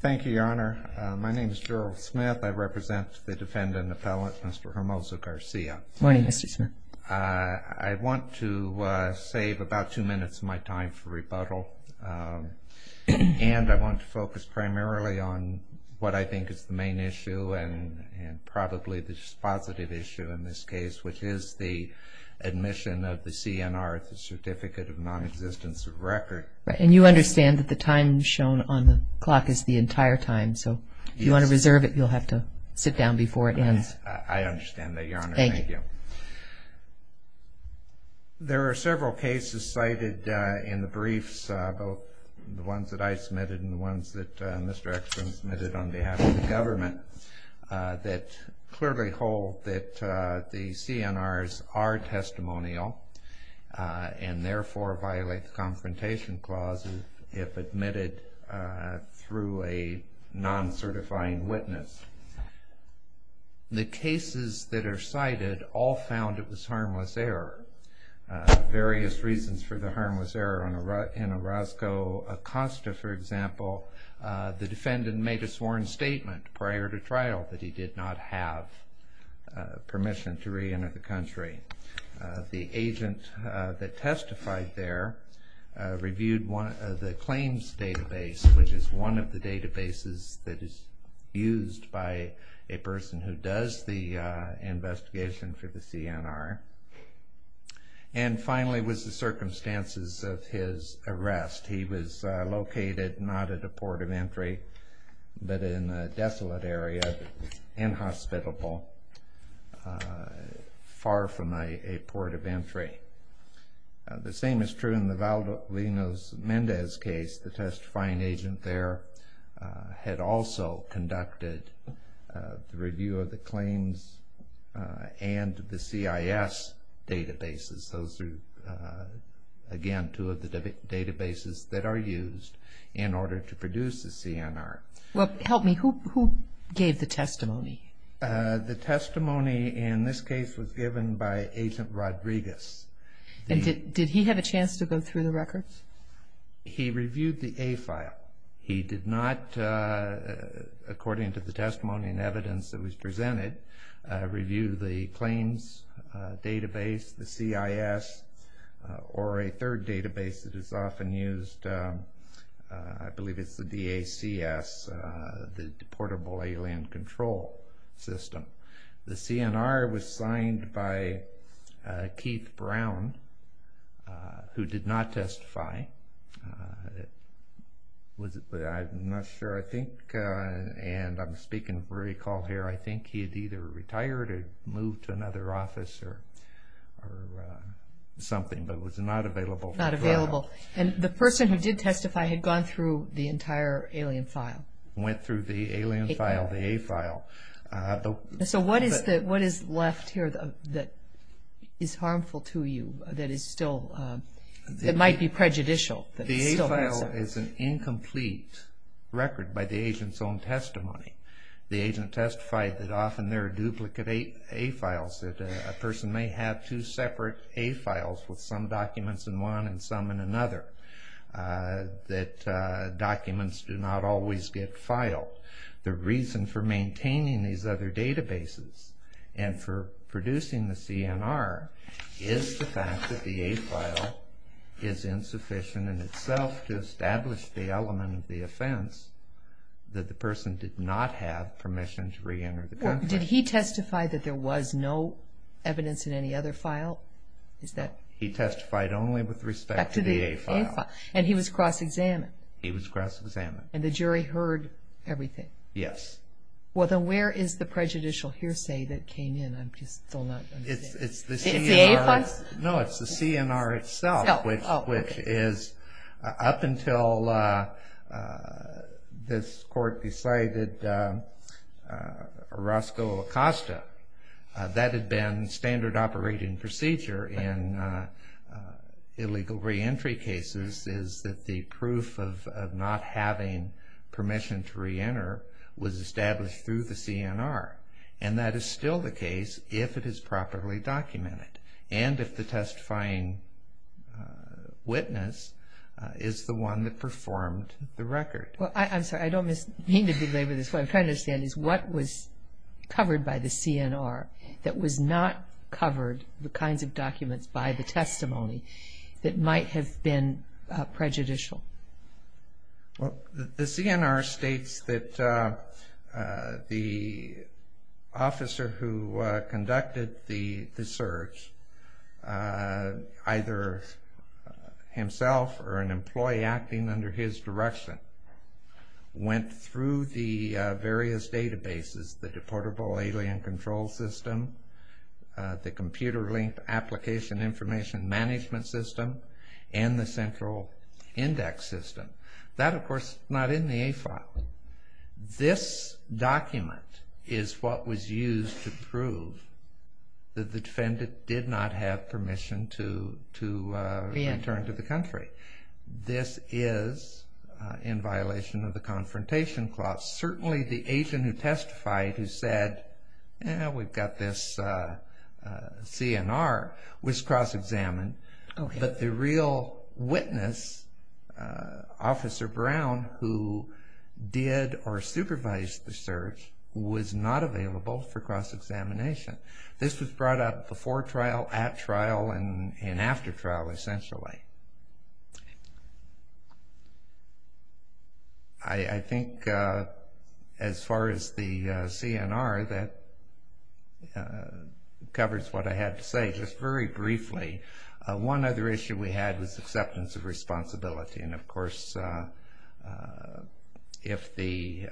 Thank you, Your Honor. My name is Gerald Smith. I represent the defendant appellant, Mr. Hermoso-Garcia. Good morning, Mr. Smith. I want to save about two minutes of my time for rebuttal, and I want to focus primarily on what I think is the main issue, and probably the positive issue in this case, which is the admission of the CNR, the Certificate of Non-Existence of Record. And you understand that the time shown on the clock is the entire time, so if you want to reserve it, you'll have to sit down before it ends. I understand that, Your Honor. Thank you. There are several cases cited in the briefs, both the ones that I submitted and the ones that Mr. Eckstrom submitted on behalf of the government, that clearly hold that the CNRs are testimonial and therefore violate the Confrontation Clause if admitted through a non-certifying witness. The cases that are cited all found it was harmless error, various reasons for the harmless error. In Orozco, Acosta, for example, the defendant made a sworn statement prior to trial that he did not have permission to reenter the country. The agent that testified there reviewed the claims database, which is one of the databases that is used by a person who does the investigation for the CNR. And finally was the circumstances of his arrest. He was located not at a port of entry, but in a desolate area, inhospitable, far from a port of entry. The same is true in the Valdez-Mendez case. The testifying agent there had also conducted the review of the claims and the CIS databases. Those are, again, two of the databases that are used in order to produce the CNR. Well, help me. Who gave the testimony? The testimony in this case was given by Agent Rodriguez. Did he have a chance to go through the records? He reviewed the A file. He reviewed the claims database, the CIS, or a third database that is often used. I believe it's the DACS, the Portable Alien Control System. The CNR was signed by Keith Brown, who did not testify. I'm not sure. I'm speaking for recall here. I think he had either retired or moved to another office or something, but was not available. Not available. And the person who did testify had gone through the entire alien file. Went through the alien file, the A file. So what is left here that is harmful to you, that might be prejudicial? The A file is an incomplete record by the agent's own testimony. The agent testified that often there are duplicate A files, that a person may have two separate A files with some documents in one and some in another, that documents do not always get filed. The reason for maintaining these other databases and for producing the CNR is the fact that the A file is insufficient in itself to establish the element of the offense that the person did not have permission to reenter the country. Did he testify that there was no evidence in any other file? He testified only with respect to the A file. And he was cross-examined? He was cross-examined. And the jury heard everything? Yes. Well, then where is the prejudicial hearsay that came in? It's the A files? No, it's the CNR itself, which is up until this court decided Roscoe Acosta, that had been standard operating procedure in illegal reentry cases, is that the proof of not having permission to reenter was established through the CNR. And that is still the case if it is properly documented and if the testifying witness is the one that performed the record. Well, I'm sorry, I don't mean to belabor this, what I'm trying to understand is what was covered by the CNR that was not covered, the kinds of documents by the testimony, that might have been prejudicial? Well, the CNR states that the officer who conducted the search, either himself or an employee acting under his direction, went through the various databases, the Deportable Alien Control System, the Computer Link Application Information Management System, and the Central Index System. That, of course, is not in the A file. This document is what was used to prove that the defendant did not have permission to return to the country. This is in violation of the Confrontation Clause. Certainly the agent who testified who said, we've got this CNR, was cross-examined. But the real witness, Officer Brown, who did or supervised the search, was not available for cross-examination. This was brought up before trial, at trial, and after trial, essentially. I think, as far as the CNR, that covers what I had to say. Just very briefly, one other issue we had was acceptance of responsibility. And, of course, if the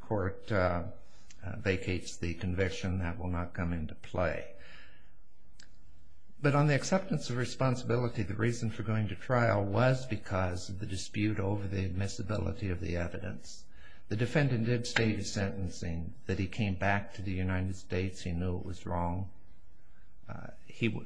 court vacates the conviction, that will not come into play. But on the acceptance of responsibility, the reason for going to trial was because of the dispute over the admissibility of the evidence. The defendant did state his sentencing, that he came back to the United States, he knew it was wrong.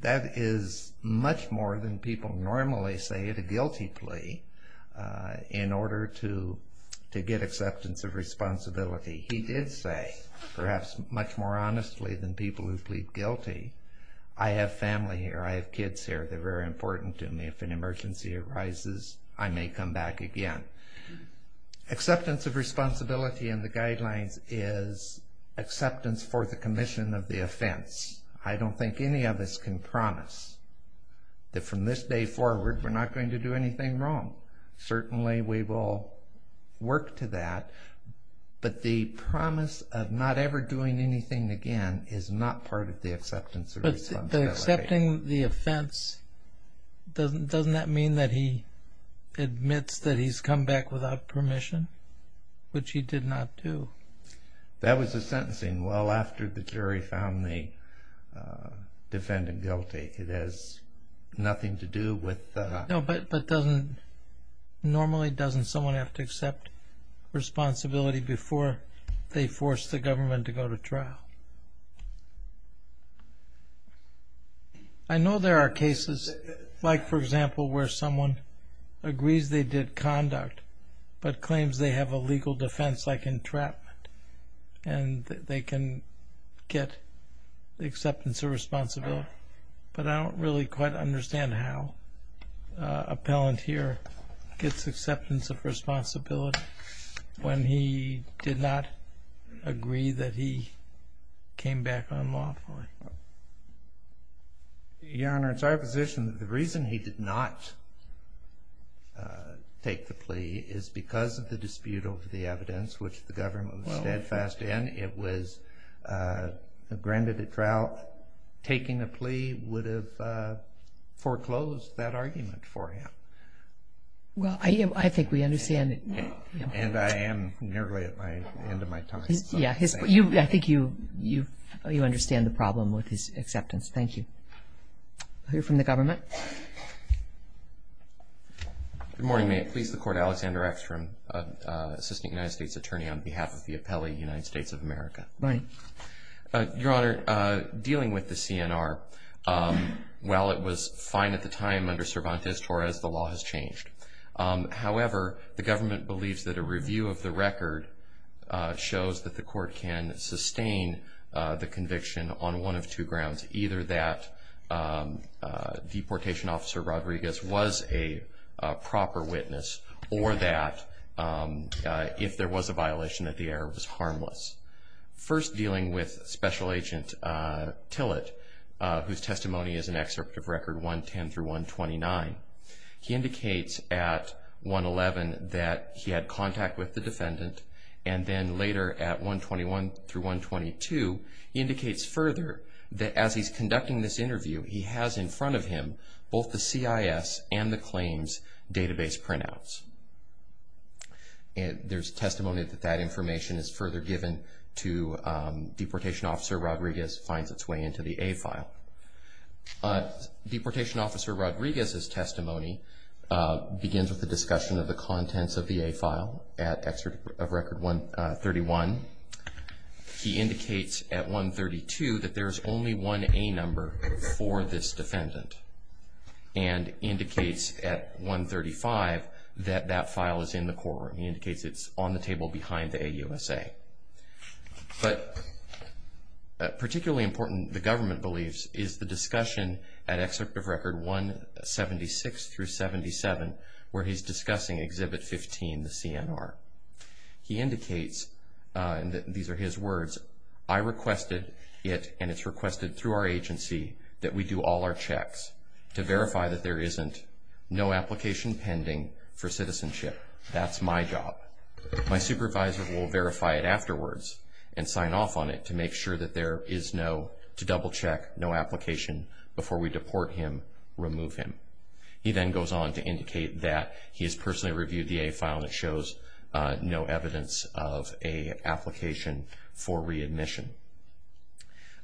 That is much more than people normally say at a guilty plea, in order to get acceptance of responsibility. He did say, perhaps much more honestly than people who plead guilty, I have family here, I have kids here, they're very important to me. If an emergency arises, I may come back again. Acceptance of responsibility in the guidelines is acceptance for the commission of the offense. I don't think any of us can promise that from this day forward, we're not going to do anything wrong. Certainly we will work to that, but the promise of not ever doing anything again is not part of the acceptance of responsibility. But accepting the offense, doesn't that mean that he admits that he's come back without permission, which he did not do? That was the sentencing well after the jury found the defendant guilty. It has nothing to do with the... No, but normally doesn't someone have to accept responsibility before they force the government to go to trial? I know there are cases, like for example, where someone agrees they did conduct, but claims they have a legal defense like entrapment, and they can get acceptance of responsibility. But I don't really quite understand how an appellant here gets acceptance of responsibility when he did not agree that he came back unlawfully. Your Honor, it's our position that the reason he did not take the plea is because of the dispute over the evidence, which the government was steadfast in. It was granted at trial. Taking the plea would have foreclosed that argument for him. Well, I think we understand. And I am nearly at the end of my time. Yeah, I think you understand the problem with his acceptance. Thank you. We'll hear from the government. Good morning. May it please the Court, Alexander Eckstrom, Assistant United States Attorney, on behalf of the appellee, United States of America. Good morning. Your Honor, dealing with the CNR, while it was fine at the time under Cervantes-Torres, the law has changed. However, the government believes that a review of the record shows that the Court can sustain the conviction on one of two grounds, either that Deportation Officer Rodriguez was a proper witness, or that if there was a violation, that the error was harmless. First, dealing with Special Agent Tillett, whose testimony is an excerpt of Record 110-129, he indicates at 111 that he had contact with the defendant, and then later at 121-122, he indicates further that as he's conducting this interview, he has in front of him both the CIS and the claims database printouts. There's testimony that that information is further given to Deportation Officer Rodriguez finds its way into the A file. Deportation Officer Rodriguez's testimony begins with the discussion of the contents of the A file at Excerpt of Record 131. He indicates at 132 that there's only one A number for this defendant, and indicates at 135 that that file is in the courtroom. He indicates it's on the table behind the AUSA. But particularly important, the government believes, is the discussion at Excerpt of Record 176-77, where he's discussing Exhibit 15, the CNR. He indicates, and these are his words, I requested it, and it's requested through our agency, that we do all our checks to verify that there isn't no application pending for citizenship. That's my job. My supervisor will verify it afterwards and sign off on it to make sure that there is no, to double check, no application. Before we deport him, remove him. He then goes on to indicate that he has personally reviewed the A file, and it shows no evidence of an application for readmission.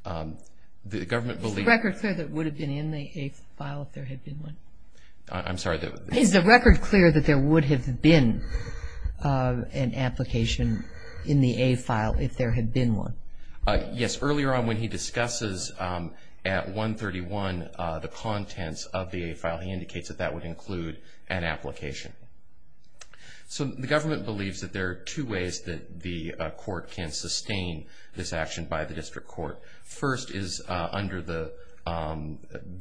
The government believes. Is the record clear that it would have been in the A file if there had been one? I'm sorry. Is the record clear that there would have been an application in the A file if there had been one? Yes. Now he indicates that that would include an application. So the government believes that there are two ways that the court can sustain this action by the district court. First is under the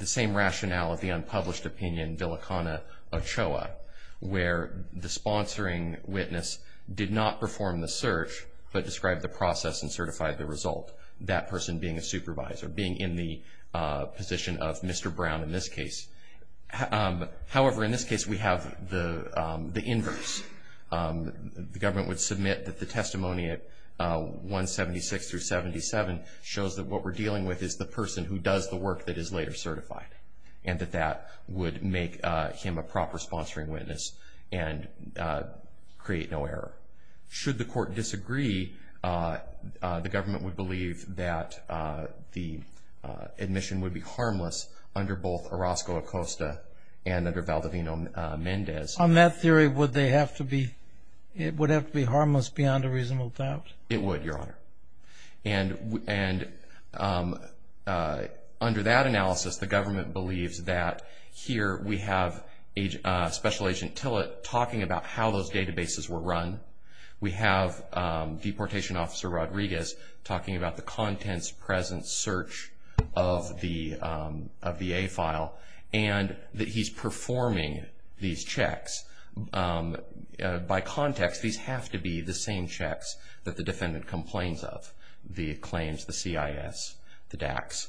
same rationale of the unpublished opinion, Villicana-Ochoa, where the sponsoring witness did not perform the search but described the process and certified the result, that person being a supervisor, or being in the position of Mr. Brown in this case. However, in this case we have the inverse. The government would submit that the testimony at 176 through 77 shows that what we're dealing with is the person who does the work that is later certified, and that that would make him a proper sponsoring witness and create no error. Should the court disagree, the government would believe that the admission would be harmless under both Orozco-Acosta and under Valdivino-Mendez. On that theory, would it have to be harmless beyond a reasonable doubt? It would, Your Honor. And under that analysis, the government believes that here we have Special Agent Tillett talking about how those databases were run. We have Deportation Officer Rodriguez talking about the contents, presence, search of the A file, and that he's performing these checks. By context, these have to be the same checks that the defendant complains of, the claims, the CIS, the DACS.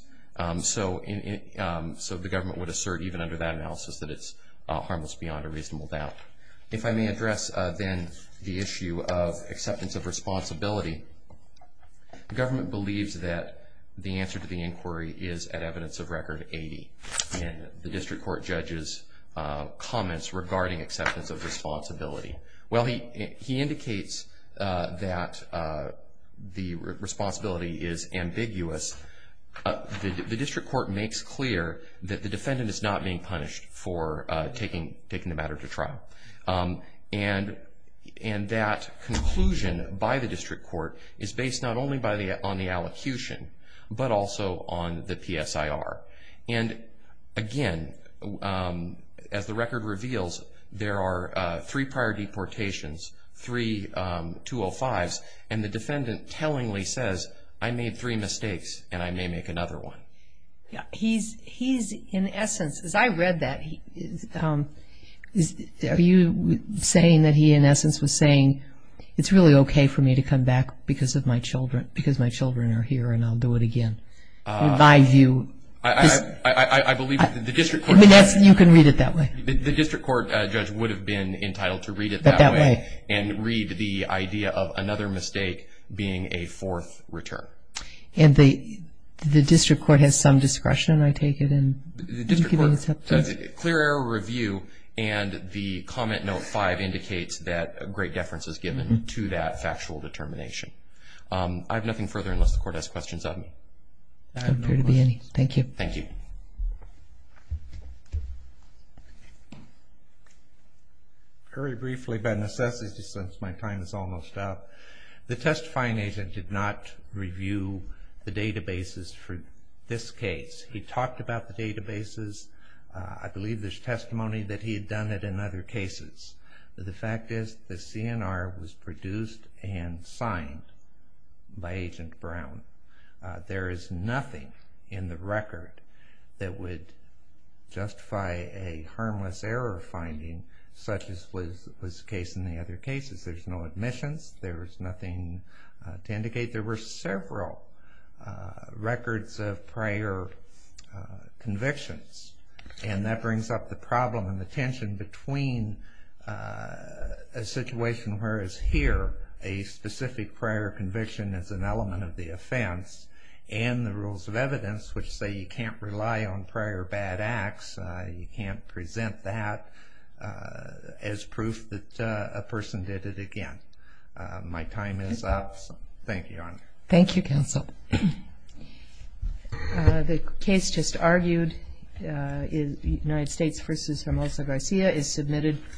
So the government would assert, even under that analysis, that it's harmless beyond a reasonable doubt. If I may address then the issue of acceptance of responsibility, the government believes that the answer to the inquiry is at evidence of Record 80 in the district court judge's comments regarding acceptance of responsibility. Well, he indicates that the responsibility is ambiguous. The district court makes clear that the defendant is not being punished for taking the matter to trial. And that conclusion by the district court is based not only on the allocution but also on the PSIR. And again, as the record reveals, there are three prior deportations, three 205s, and the defendant tellingly says, I made three mistakes and I may make another one. He's in essence, as I read that, are you saying that he in essence was saying, it's really okay for me to come back because my children are here and I'll do it again? My view is you can read it that way. The district court judge would have been entitled to read it that way and read the idea of another mistake being a fourth return. And the district court has some discretion, I take it, in giving acceptance? The district court does a clear error review and the comment note 5 indicates that great deference is given to that factual determination. I have nothing further unless the court has questions of me. I have no questions. I'm clear to be any. Thank you. Thank you. Very briefly, by necessity since my time is almost up, the testifying agent did not review the databases for this case. He talked about the databases. I believe there's testimony that he had done it in other cases. The fact is the CNR was produced and signed by Agent Brown. There is nothing in the record that would justify a harmless error finding such as was the case in the other cases. There's no admissions. There's nothing to indicate. There were several records of prior convictions and that brings up the problem and the tension between a situation where it's here, a specific prior conviction as an element of the offense, and the rules of evidence which say you can't rely on prior bad acts, you can't present that as proof that a person did it again. My time is up. Thank you, Your Honor. Thank you, Counsel. The case just argued, United States v. Hermosa Garcia, is submitted.